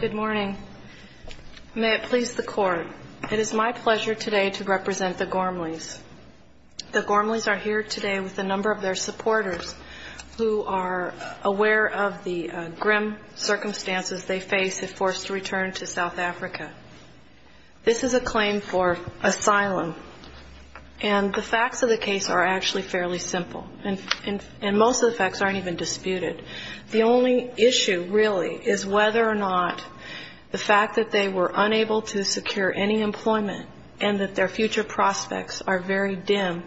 Good morning. May it please the Court, it is my pleasure today to represent the Gormleys. The Gormleys are here today with a number of their supporters who are aware of the grim circumstances they face if forced to return to South Africa. This is a claim for asylum, and the facts of the case are actually fairly simple, and most of the facts aren't even disputed. The only issue, really, is whether or not the fact that they were unable to secure any employment and that their future prospects are very dim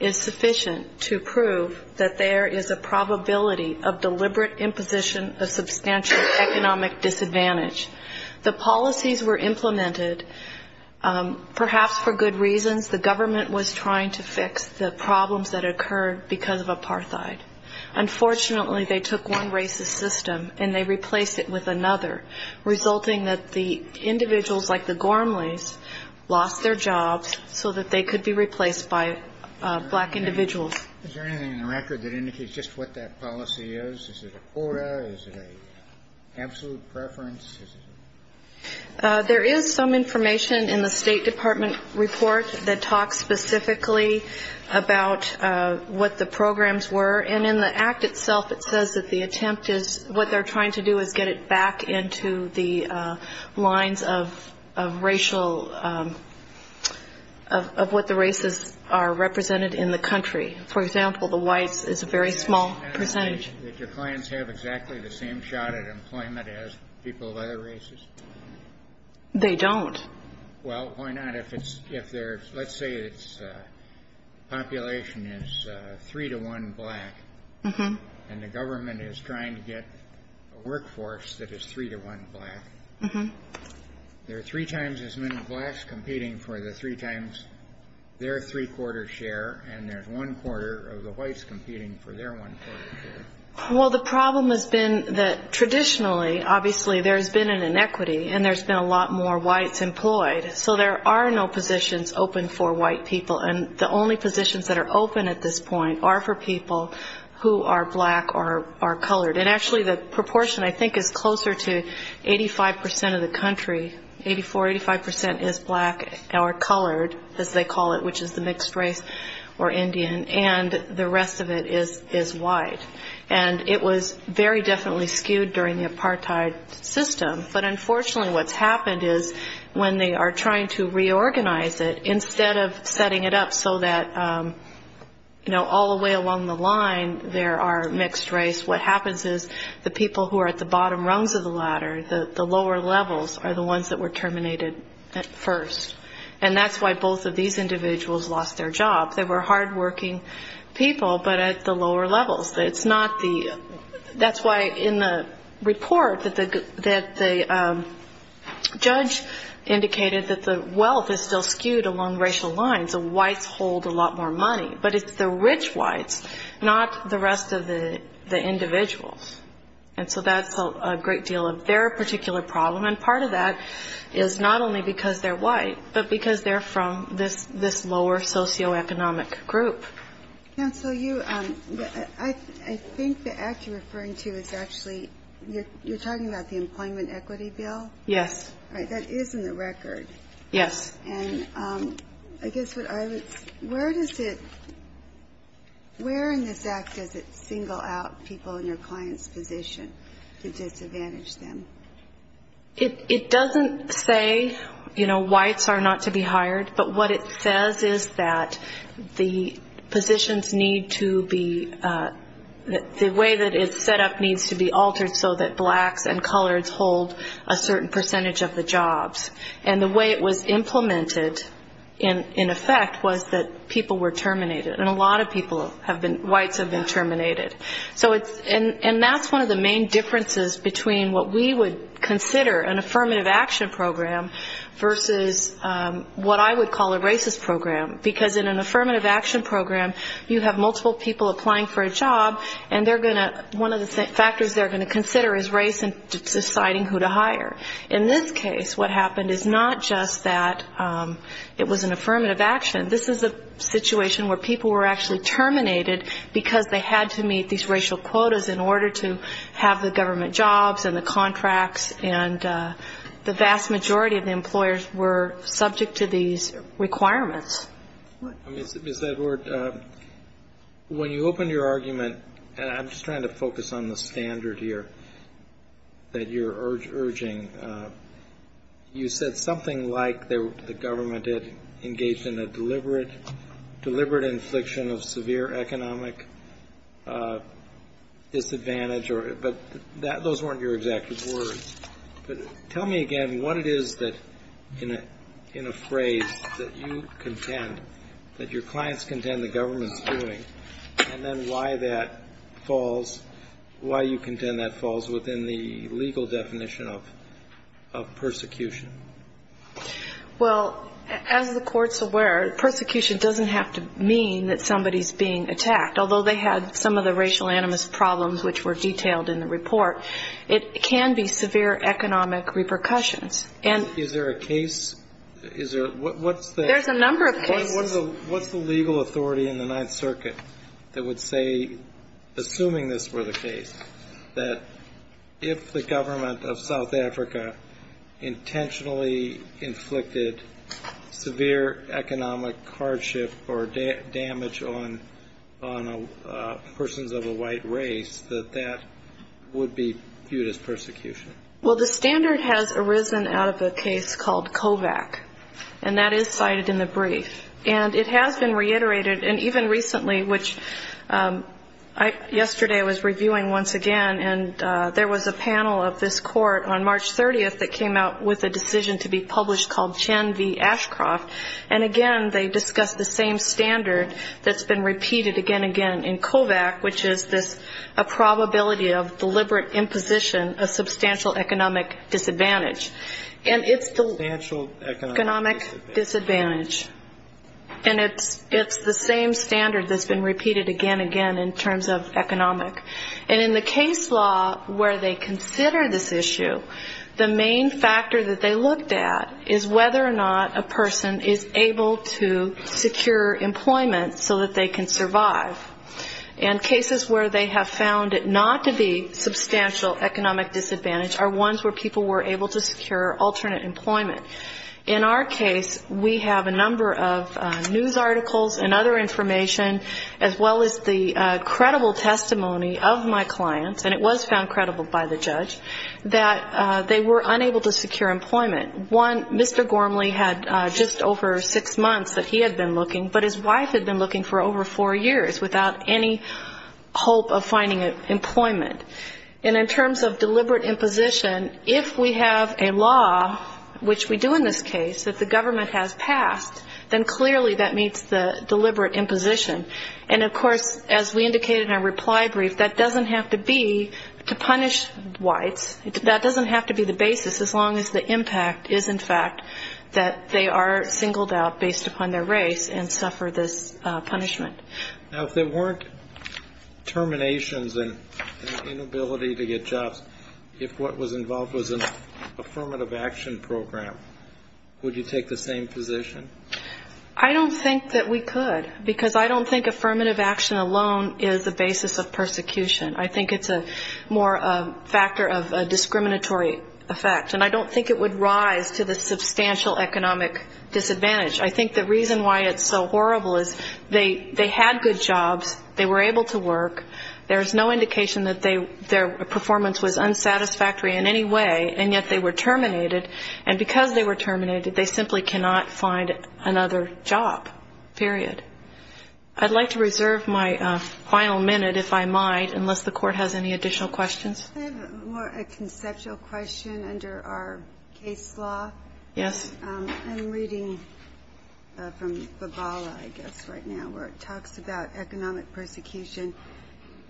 is sufficient to prove that there is a probability of deliberate imposition of substantial economic disadvantage. The policies were implemented perhaps for good reasons. The government was trying to fix the problems that occurred because of apartheid. Unfortunately, they took one racist system and they replaced it with another, resulting that the individuals like the Gormleys lost their jobs so that they could be replaced by black individuals. Is there anything in the record that indicates just what that policy is? Is it a quota? Is it an absolute preference? There is some information in the State Department report that talks specifically about what the programs were, and in the Act itself, it says that the country. For example, the whites is a very small percentage. Can I say that your clients have exactly the same shot at employment as people of other races? They don't. Well, why not? If there's, let's say its population is three to one black, and the government is trying to get a workforce that is three to one black, there are three times as many blacks competing for the three times their three quarter share, and there's one quarter of the whites competing for their one quarter share. Well, the problem has been that traditionally, obviously, there's been an inequity, and there's been a lot more whites employed. So there are no positions open for white people, and the only positions that are open at this point are for people who are black or are colored. And actually, the proportion, I think, is closer to 85 percent of the country. Eighty-four, 85 percent is black or colored, as they call it, which is the mixed race or Indian, and the rest of it is white. And it was very definitely skewed during the apartheid system, but unfortunately, what's happened is when they are trying to reorganize it, you know, all the way along the line, there are mixed race. What happens is the people who are at the bottom rungs of the ladder, the lower levels, are the ones that were terminated first. And that's why both of these individuals lost their jobs. They were hardworking people, but at the lower levels. It's not the – that's why in the report that the judge indicated that the wealth is still skewed along racial lines. It's the whites hold a lot more money, but it's the rich whites, not the rest of the individuals. And so that's a great deal of their particular problem, and part of that is not only because they're white, but because they're from this lower socioeconomic group. Counsel, you – I think the act you're referring to is actually – you're talking about the employment equity bill? Yes. All right. That is in the record. Yes. And I guess what I was – where does it – where in this act does it single out people in your client's position to disadvantage them? It doesn't say, you know, whites are not to be hired, but what it says is that the positions need to be – the way that it's set up needs to be altered so that blacks and coloreds hold a certain percentage of the jobs. And the way it was implemented in effect was that people were terminated, and a lot of people have been – whites have been terminated. So it's – and that's one of the main differences between what we would consider an affirmative action program versus what I would call a racist program, because in an affirmative action program, you have multiple people applying for a job, and they're going to – one of the factors they're going to consider is race and deciding who to hire. In this case, what happened is not just that it was an affirmative action. This is a situation where people were actually terminated because they had to meet these racial quotas in order to have the government jobs and the contracts, and the vast majority of the employers were subject to these requirements. Ms. Edward, when you opened your argument – and I'm just trying to focus on the standard here that you're urging – you said something like the government had engaged in a deliberate infliction of severe economic disadvantage, but those weren't your exact words. But tell me again what it is that – in a phrase that you contend, that your clients contend the government's doing, and then why that falls – why you contend that falls within the legal definition of persecution. Well, as the Court's aware, persecution doesn't have to mean that somebody's being attacked. Although they had some of the racial animus problems which were detailed in the report, it can be severe economic repercussions. Is there a case? There's a number of cases. What's the legal authority in the Ninth Circuit that would say, assuming this were the case, that if the government of South Africa intentionally inflicted severe economic hardship or damage on persons of a white race, that that would be viewed as persecution? Well, the standard has arisen out of a case called Kovac, and that is cited in the brief. And it has been reiterated, and even recently, which yesterday I was reviewing once again, and there was a panel of this Court on March 30th that came out with a decision to be published called Chen v. Ashcroft. And again, they discussed the same standard that's been repeated again and again in Kovac, which is a probability of deliberate imposition of substantial economic disadvantage. Substantial economic disadvantage. And it's the same standard that's been repeated again and again in terms of economic. And in the case law where they consider this issue, the main factor that they looked at is whether or not a person is able to secure employment so that they can survive. And cases where they have found it not to be substantial economic disadvantage are ones where people were able to secure alternate employment. In our case, we have a number of news articles and other information, as well as the credible testimony of my clients, and it was found credible by the judge, that they were unable to secure employment. One, Mr. Gormley had just over six months that he had been looking, but his wife had been looking for over four years without any hope of finding employment. And in terms of deliberate imposition, if we have a law, which we do in this case, that the government has passed, then clearly that meets the deliberate imposition. And, of course, as we indicated in our reply brief, that doesn't have to be to punish whites. That doesn't have to be the basis, as long as the impact is, in fact, that they are singled out based upon their race. And suffer this punishment. Now, if there weren't terminations and inability to get jobs, if what was involved was an affirmative action program, would you take the same position? I don't think that we could, because I don't think affirmative action alone is the basis of persecution. I think it's more a factor of a discriminatory effect. And I don't think it would rise to the substantial economic disadvantage. I think the reason why it's so horrible is they had good jobs. They were able to work. There is no indication that their performance was unsatisfactory in any way, and yet they were terminated. And because they were terminated, they simply cannot find another job, period. I'd like to reserve my final minute, if I might, unless the Court has any additional questions. I have a conceptual question under our case law. Yes. I'm reading from Babala, I guess, right now, where it talks about economic persecution.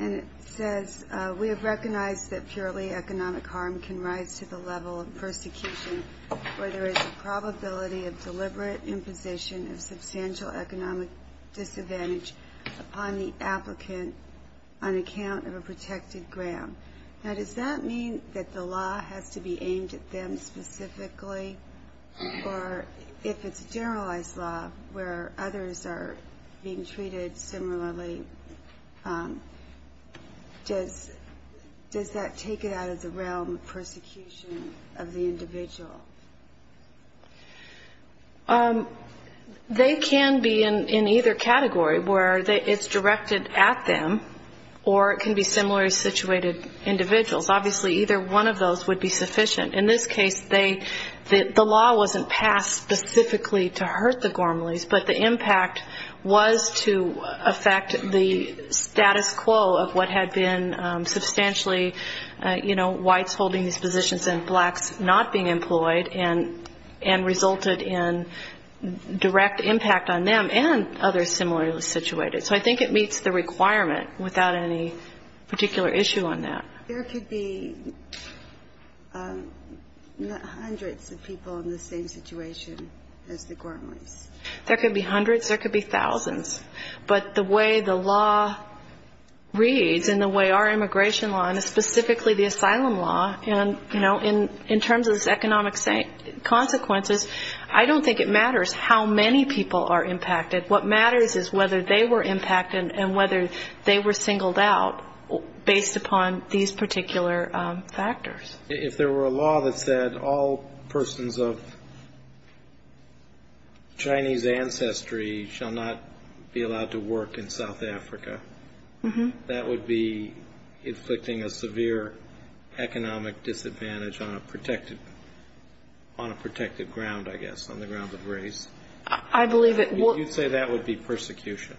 And it says, We have recognized that purely economic harm can rise to the level of persecution where there is a probability of deliberate imposition of substantial economic disadvantage upon the applicant on account of a protected grant. Now, does that mean that the law has to be aimed at them specifically, or if it's a generalized law where others are being treated similarly, does that take it out of the realm of persecution of the individual? They can be in either category, where it's directed at them, or it can be similarly situated individuals. Obviously, either one of those would be sufficient. In this case, the law wasn't passed specifically to hurt the Gormleys, but the impact was to affect the status quo of what had been substantially, you know, and resulted in direct impact on them and others similarly situated. So I think it meets the requirement without any particular issue on that. There could be hundreds of people in the same situation as the Gormleys. There could be hundreds. There could be thousands. But the way the law reads and the way our immigration law, and specifically the asylum law, and, you know, in terms of its economic consequences, I don't think it matters how many people are impacted. What matters is whether they were impacted and whether they were singled out based upon these particular factors. If there were a law that said all persons of Chinese ancestry shall not be allowed to work in South Africa, that would be inflicting a severe economic disadvantage on a protected ground, I guess, on the grounds of race. I believe it would. You'd say that would be persecution.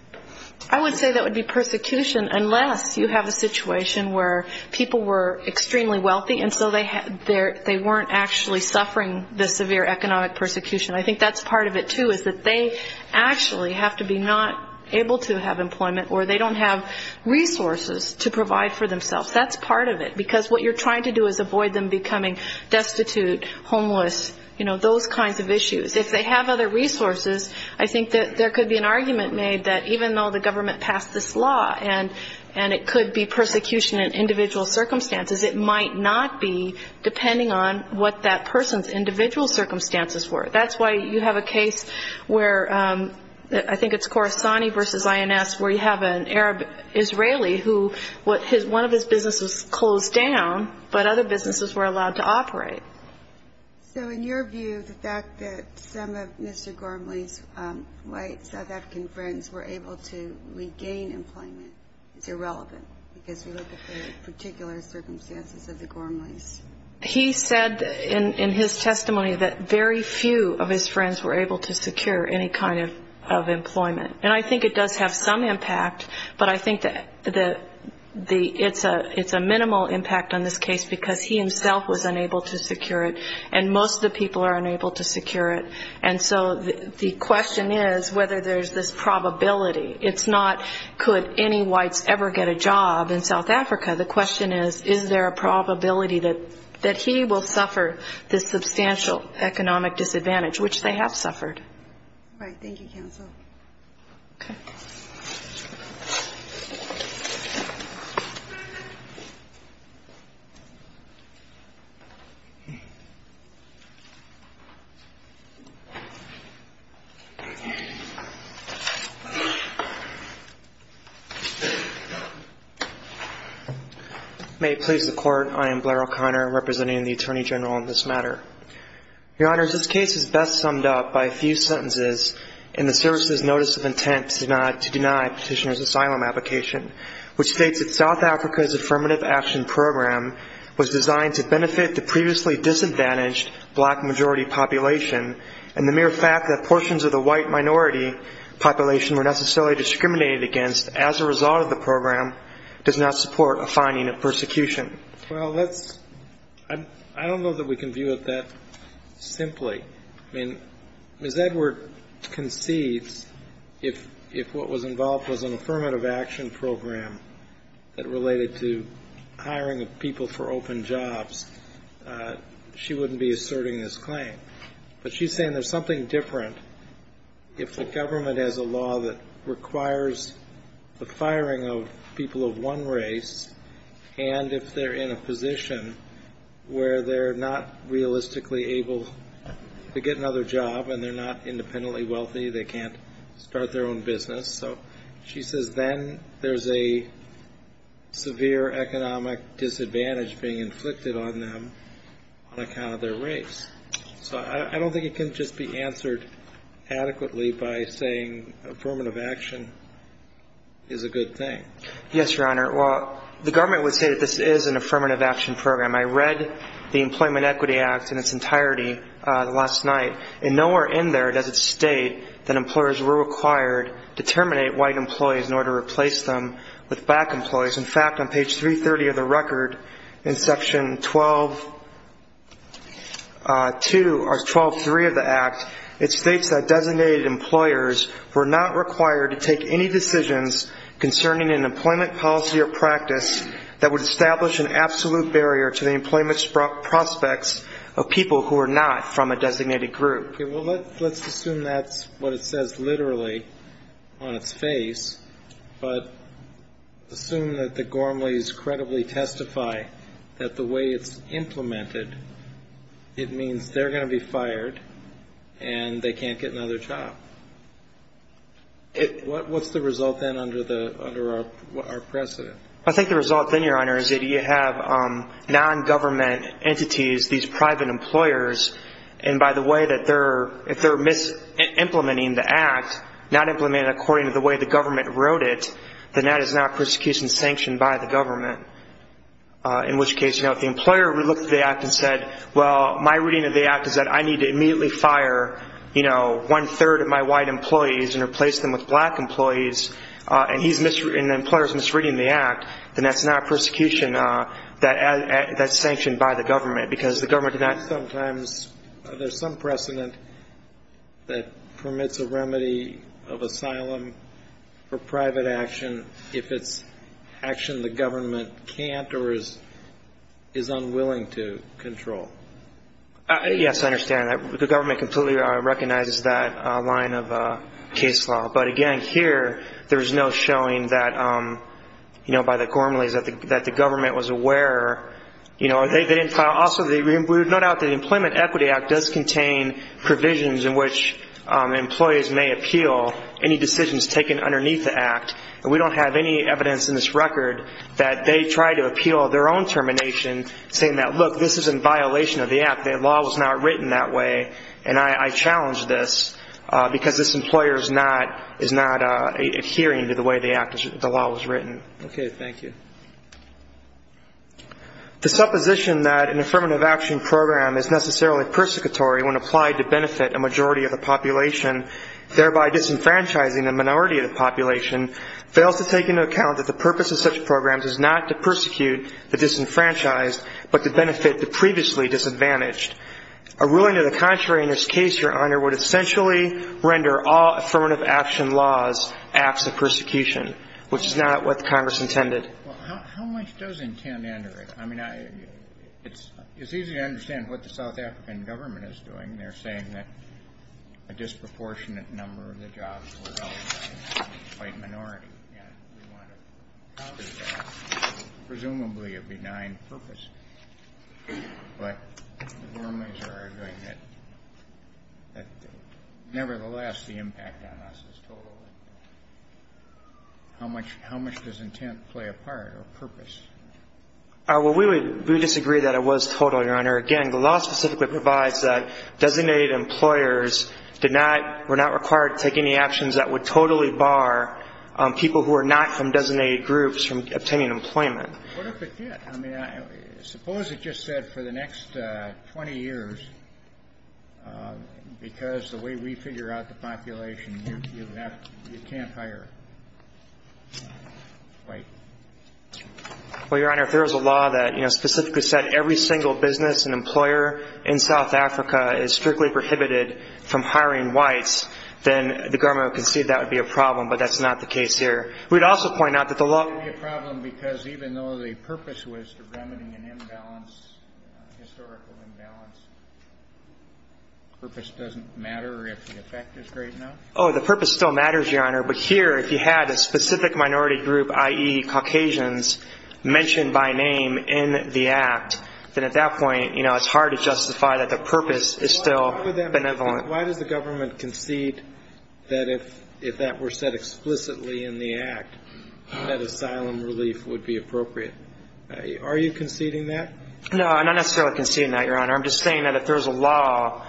I would say that would be persecution unless you have a situation where people were extremely wealthy and so they weren't actually suffering the severe economic persecution. I think that's part of it, too, is that they actually have to be not able to have employment or they don't have resources to provide for themselves. That's part of it, because what you're trying to do is avoid them becoming destitute, homeless, you know, those kinds of issues. If they have other resources, I think that there could be an argument made that even though the government passed this law and it could be persecution in individual circumstances, it might not be depending on what that person's individual circumstances were. That's why you have a case where I think it's Khorasani v. INS where you have an Arab-Israeli who one of his businesses closed down, but other businesses were allowed to operate. So in your view, the fact that some of Mr. Gormley's white South African friends were able to regain employment is irrelevant because we look at the particular circumstances of the Gormleys. He said in his testimony that very few of his friends were able to secure any kind of employment. And I think it does have some impact, but I think it's a minimal impact on this case because he himself was unable to secure it and most of the people are unable to secure it. And so the question is whether there's this probability. It's not could any whites ever get a job in South Africa. The question is, is there a probability that he will suffer this substantial economic disadvantage, which they have suffered. Right. May it please the Court. I am Blair O'Connor, representing the Attorney General in this matter. Your Honors, this case is best summed up by a few sentences in the Service's Notice of Intent to Deny Petitioner's Asylum Application, which states that South Africa's Affirmative Action Program was designed to benefit the previously disadvantaged black majority population and the mere fact that portions of the white minority population were necessarily discriminated against as a result of the program does not support a finding of persecution. Well, let's – I don't know that we can view it that simply. I mean, Ms. Edward concedes if what was involved was an Affirmative Action Program that related to hiring of people for open jobs, she wouldn't be asserting this claim. But she's saying there's something different if the government has a law that requires the firing of people of one race and if they're in a position where they're not realistically able to get another job and they're not independently wealthy, they can't start their own business. So she says then there's a severe economic disadvantage being inflicted on them on account of their race. So I don't think it can just be answered adequately by saying Affirmative Action is a good thing. Yes, Your Honor. Well, the government would say that this is an Affirmative Action Program. I read the Employment Equity Act in its entirety last night, and nowhere in there does it state that employers were required to terminate white employees in order to replace them with black employees. In fact, on page 330 of the record in Section 12-3 of the Act, it states that designated employers were not required to take any decisions concerning an employment policy or practice that would establish an absolute barrier to the employment prospects of people who are not from a designated group. Well, let's assume that's what it says literally on its face, but assume that the Gormleys credibly testify that the way it's implemented, it means they're going to be fired and they can't get another job. What's the result then under our precedent? I think the result then, Your Honor, is that you have non-government entities, these private employers, and by the way, if they're mis-implementing the Act, not implementing it according to the way the government wrote it, then that is not persecution sanctioned by the government. In which case, if the employer looked at the Act and said, well, my reading of the Act is that I need to immediately fire one-third of my white employees and replace them with black employees and the employer is misreading the Act, then that's not persecution that's sanctioned by the government because the government did not. Sometimes there's some precedent that permits a remedy of asylum for private action if it's action the government can't or is unwilling to control. Yes, I understand. The government completely recognizes that line of case law. But again, here, there's no showing by the Gormleys that the government was aware. Also, we would note out that the Employment Equity Act does contain provisions in which employees may appeal any decisions taken underneath the Act. We don't have any evidence in this record that they tried to appeal their own termination, saying that, look, this is in violation of the Act. The law was not written that way, and I challenge this because this employer is not adhering to the way the law was written. Okay, thank you. The supposition that an affirmative action program is necessarily persecutory when applied to benefit a majority of the population, thereby disenfranchising a minority of the population, fails to take into account that the purpose of such programs is not to persecute the disenfranchised but to benefit the previously disadvantaged. A ruling to the contrary in this case, Your Honor, would essentially render all affirmative action laws acts of persecution, which is not what the Congress intended. Well, how much does intend under it? I mean, it's easy to understand what the South African government is doing. They're saying that a disproportionate number of the jobs were held by a white minority. Presumably a benign purpose. But the normies are arguing that, nevertheless, the impact on us is total. How much does intent play a part or purpose? Well, we would disagree that it was total, Your Honor. Again, the law specifically provides that designated employers were not required to take any actions that would totally bar people who are not from designated groups from obtaining employment. What if it did? I mean, suppose it just said for the next 20 years, because the way we figure out the population, you can't hire white. Well, Your Honor, if there was a law that specifically said every single business and employer in South Africa is strictly prohibited from hiring whites, then the government would concede that would be a problem. But that's not the case here. We'd also point out that the law would be a problem because even though the purpose was to remedy an imbalance, historical imbalance, purpose doesn't matter if the effect is great enough? Oh, the purpose still matters, Your Honor. But here, if you had a specific minority group, i.e., Caucasians, mentioned by name in the act, then at that point, you know, it's hard to justify that the purpose is still benevolent. Why does the government concede that if that were said explicitly in the act, that asylum relief would be appropriate? Are you conceding that? No, I'm not necessarily conceding that, Your Honor. I'm just saying that if there was a law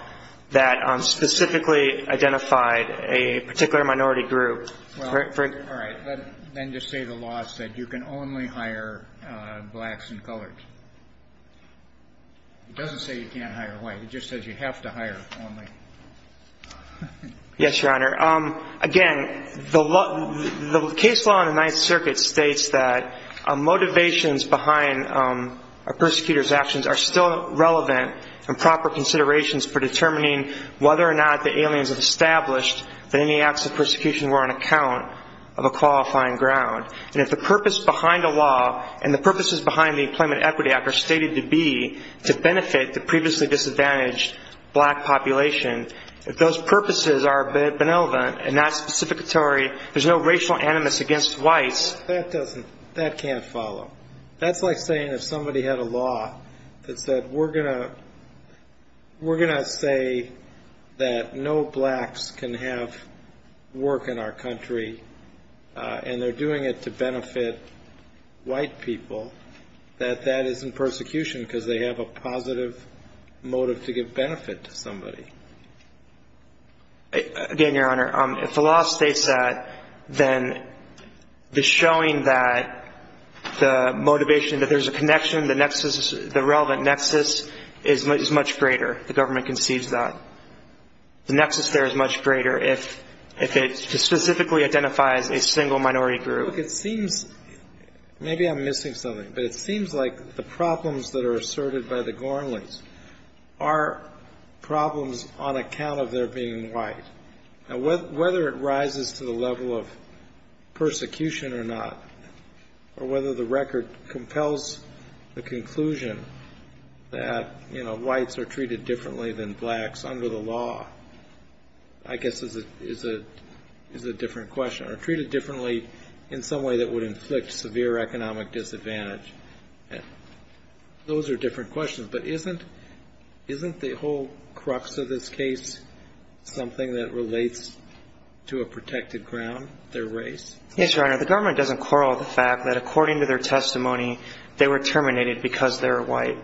that specifically identified a particular minority group. All right. Then just say the law said you can only hire blacks and coloreds. It doesn't say you can't hire white. It just says you have to hire only. Yes, Your Honor. Again, the case law in the Ninth Circuit states that motivations behind a persecutor's actions are still relevant and proper considerations for determining whether or not the aliens have established that any acts of persecution were on account of a qualifying ground. And if the purpose behind a law and the purposes behind the Employment Equity Act are stated to be to benefit the previously disadvantaged black population, if those purposes are benevolent and not specificatory, there's no racial animus against whites. That can't follow. That's like saying if somebody had a law that said we're going to say that no blacks can have work in our country and they're doing it to benefit white people, that that isn't persecution because they have a positive motive to give benefit to somebody. Again, Your Honor, if the law states that, then the showing that the motivation that there's a connection, the nexus, the relevant nexus is much greater if the government concedes that. The nexus there is much greater if it specifically identifies a single minority group. Look, it seems maybe I'm missing something, but it seems like the problems that are asserted by the Gornleys are problems on account of their being white. Now, whether it rises to the level of persecution or not, or whether the record compels the conclusion that whites are treated differently than blacks under the law, I guess is a different question, or treated differently in some way that would inflict severe economic disadvantage. Those are different questions. But isn't the whole crux of this case something that relates to a protected ground, their race? Yes, Your Honor. The government doesn't quarrel with the fact that according to their testimony, they were terminated because they're white.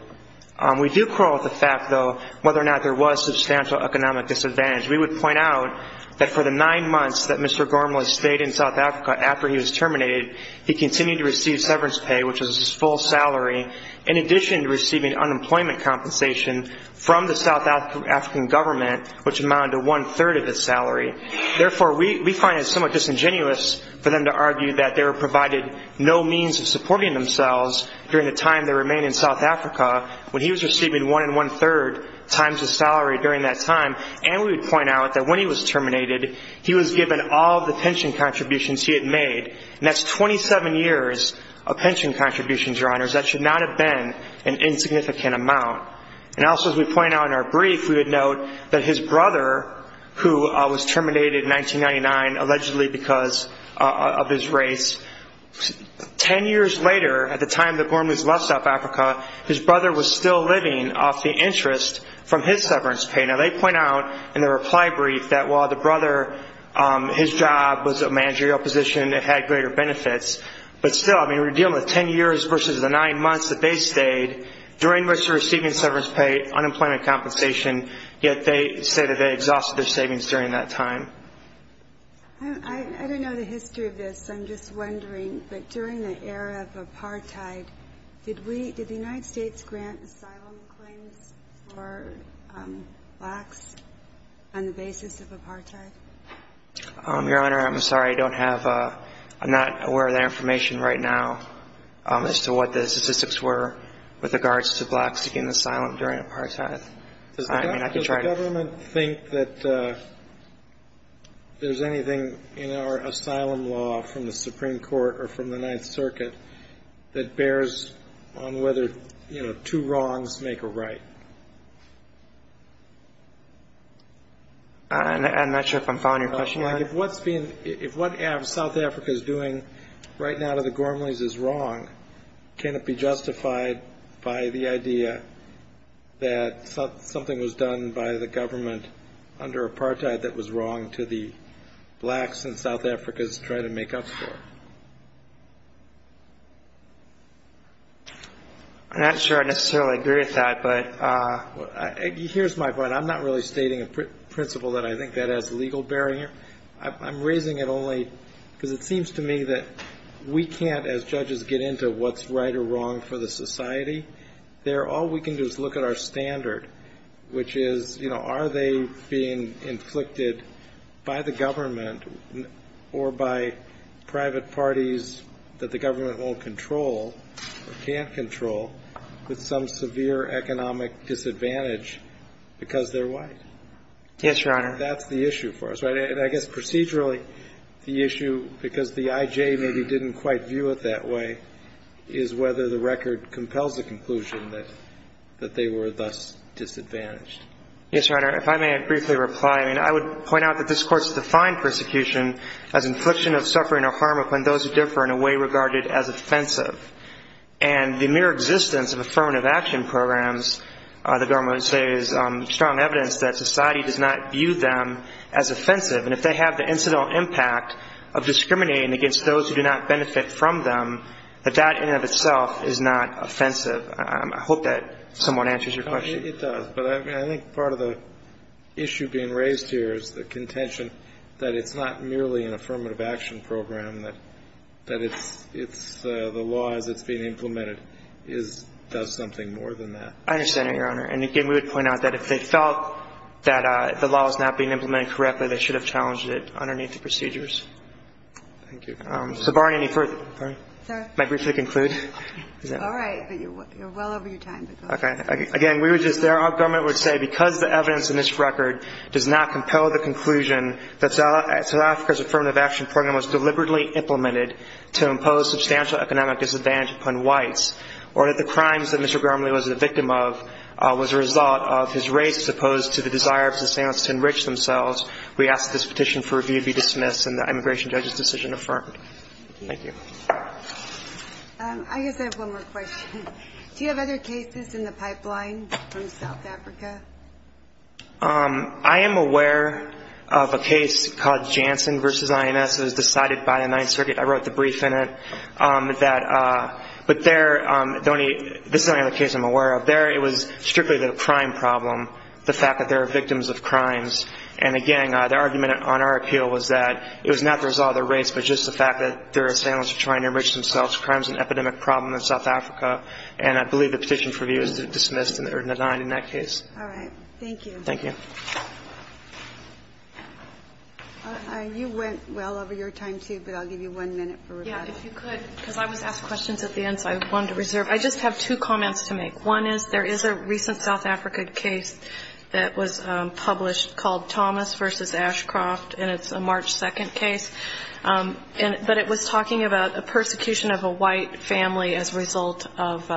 We do quarrel with the fact, though, whether or not there was substantial economic disadvantage. We would point out that for the nine months that Mr. Gornleys stayed in South Africa after he was terminated, he continued to receive severance pay, which was his full salary, in addition to receiving unemployment compensation from the South African government, which amounted to one-third of his salary. Therefore, we find it somewhat disingenuous for them to argue that they were provided no means of supporting themselves during the time they remained in South Africa when he was receiving one and one-third times his salary during that time. And we would point out that when he was terminated, he was given all the pension contributions he had made, and that's 27 years of pension contributions, Your Honors. That should not have been an insignificant amount. And also, as we point out in our brief, we would note that his brother, who was terminated in 1999 allegedly because of his race, 10 years later at the time that Gornleys left South Africa, his brother was still living off the interest from his severance pay. Now, they point out in their reply brief that while the brother, his job was a managerial position that had greater benefits, but still, I mean, we're dealing with 10 years versus the nine months that they stayed, during which they were receiving severance pay, unemployment compensation, yet they say that they exhausted their savings during that time. I don't know the history of this. I'm just wondering that during the era of apartheid, did we, did the United States grant asylum claims for blacks on the basis of apartheid? Your Honor, I'm sorry, I don't have, I'm not aware of that information right now, as to what the statistics were with regards to blacks getting asylum during apartheid. Does the government think that there's anything in our asylum law from the Supreme Court or from the Ninth Circuit that bears on whether, you know, two wrongs make a right? I'm not sure if I'm following your question, Your Honor. If what's being, if what South Africa is doing right now to the Gornleys is wrong, can it be justified by the idea that something was done by the government under apartheid that was wrong to the blacks in South Africa's try to make up for? I'm not sure I necessarily agree with that, but. Here's my point. I'm not really stating a principle that I think that has legal bearing here. I'm raising it only because it seems to me that we can't, as judges, get into what's right or wrong for the society. There, all we can do is look at our standard, which is, you know, are they being inflicted by the government or by private parties that the government won't control or can't control with some severe economic disadvantage because they're white? Yes, Your Honor. That's the issue for us. But I guess procedurally, the issue, because the IJ maybe didn't quite view it that way, is whether the record compels the conclusion that they were thus disadvantaged. Yes, Your Honor. If I may briefly reply. I mean, I would point out that this Court's defined persecution as infliction of suffering or harm upon those who differ in a way regarded as offensive. And if they have the incidental impact of discriminating against those who do not benefit from them, that in and of itself is not offensive. I hope that somewhat answers your question. It does. But I think part of the issue being raised here is the contention that it's not merely an affirmative action program, that it's the law as it's being implemented does something more than that. I understand it, Your Honor. And, again, we would point out that if they felt that the law was not being implemented correctly, they should have challenged it underneath the procedures. Thank you. So, Barney, any further? Sir? May I briefly conclude? All right. But you're well over your time. Okay. Again, we were just there. Our government would say because the evidence in this record does not compel the conclusion that South Africa's affirmative action program was deliberately implemented to impose substantial economic disadvantage upon whites or that the crimes that Mr. Gromley was a victim of was a result of his race, as opposed to the desire of his family to enrich themselves, we ask that this petition for review be dismissed and the immigration judge's decision affirmed. Thank you. I guess I have one more question. Do you have other cases in the pipeline from South Africa? I am aware of a case called Jansen v. INS. It was decided by the Ninth Circuit. I wrote the brief in it. But this is the only other case I'm aware of. There it was strictly the crime problem, the fact that there are victims of crimes. And, again, the argument on our appeal was that it was not the result of their race, but just the fact that their families were trying to enrich themselves. Crime is an epidemic problem in South Africa, and I believe the petition for review is dismissed or denied in that case. All right. Thank you. Thank you. You went well over your time, too, but I'll give you one minute for rebuttal. If you could, because I was asked questions at the end, so I wanted to reserve. I just have two comments to make. One is there is a recent South Africa case that was published called Thomas v. Ashcroft, and it's a March 2nd case, but it was talking about a persecution of a white family as a result of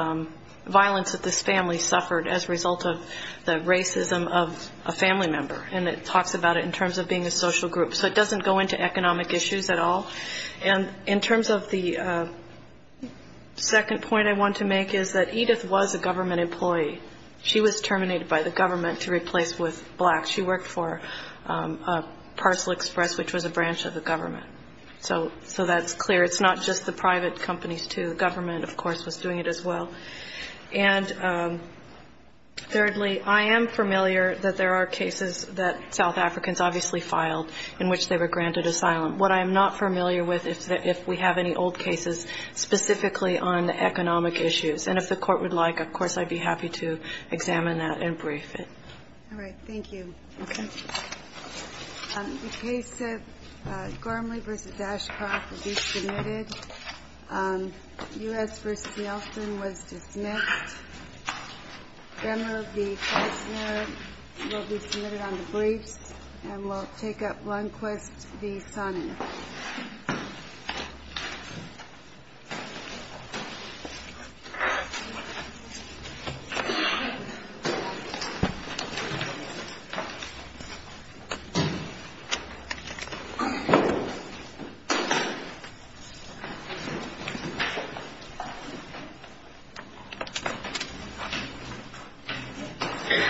violence that this family suffered as a result of the racism of a family member. And it talks about it in terms of being a social group. So it doesn't go into economic issues at all. And in terms of the second point I want to make is that Edith was a government employee. She was terminated by the government to replace with blacks. She worked for Parcel Express, which was a branch of the government. So that's clear. It's not just the private companies, too. The government, of course, was doing it as well. And thirdly, I am familiar that there are cases that South Africans obviously filed in which they were granted asylum. What I am not familiar with is if we have any old cases specifically on economic issues. And if the Court would like, of course, I'd be happy to examine that and brief it. All right. Thank you. Okay. The case of Gormley v. Ashcroft will be submitted. U.S. v. Nelson was dismissed. Gremner v. Feisner will be submitted on the briefs. And we'll take up Lundquist v. Sonnen. Thank you.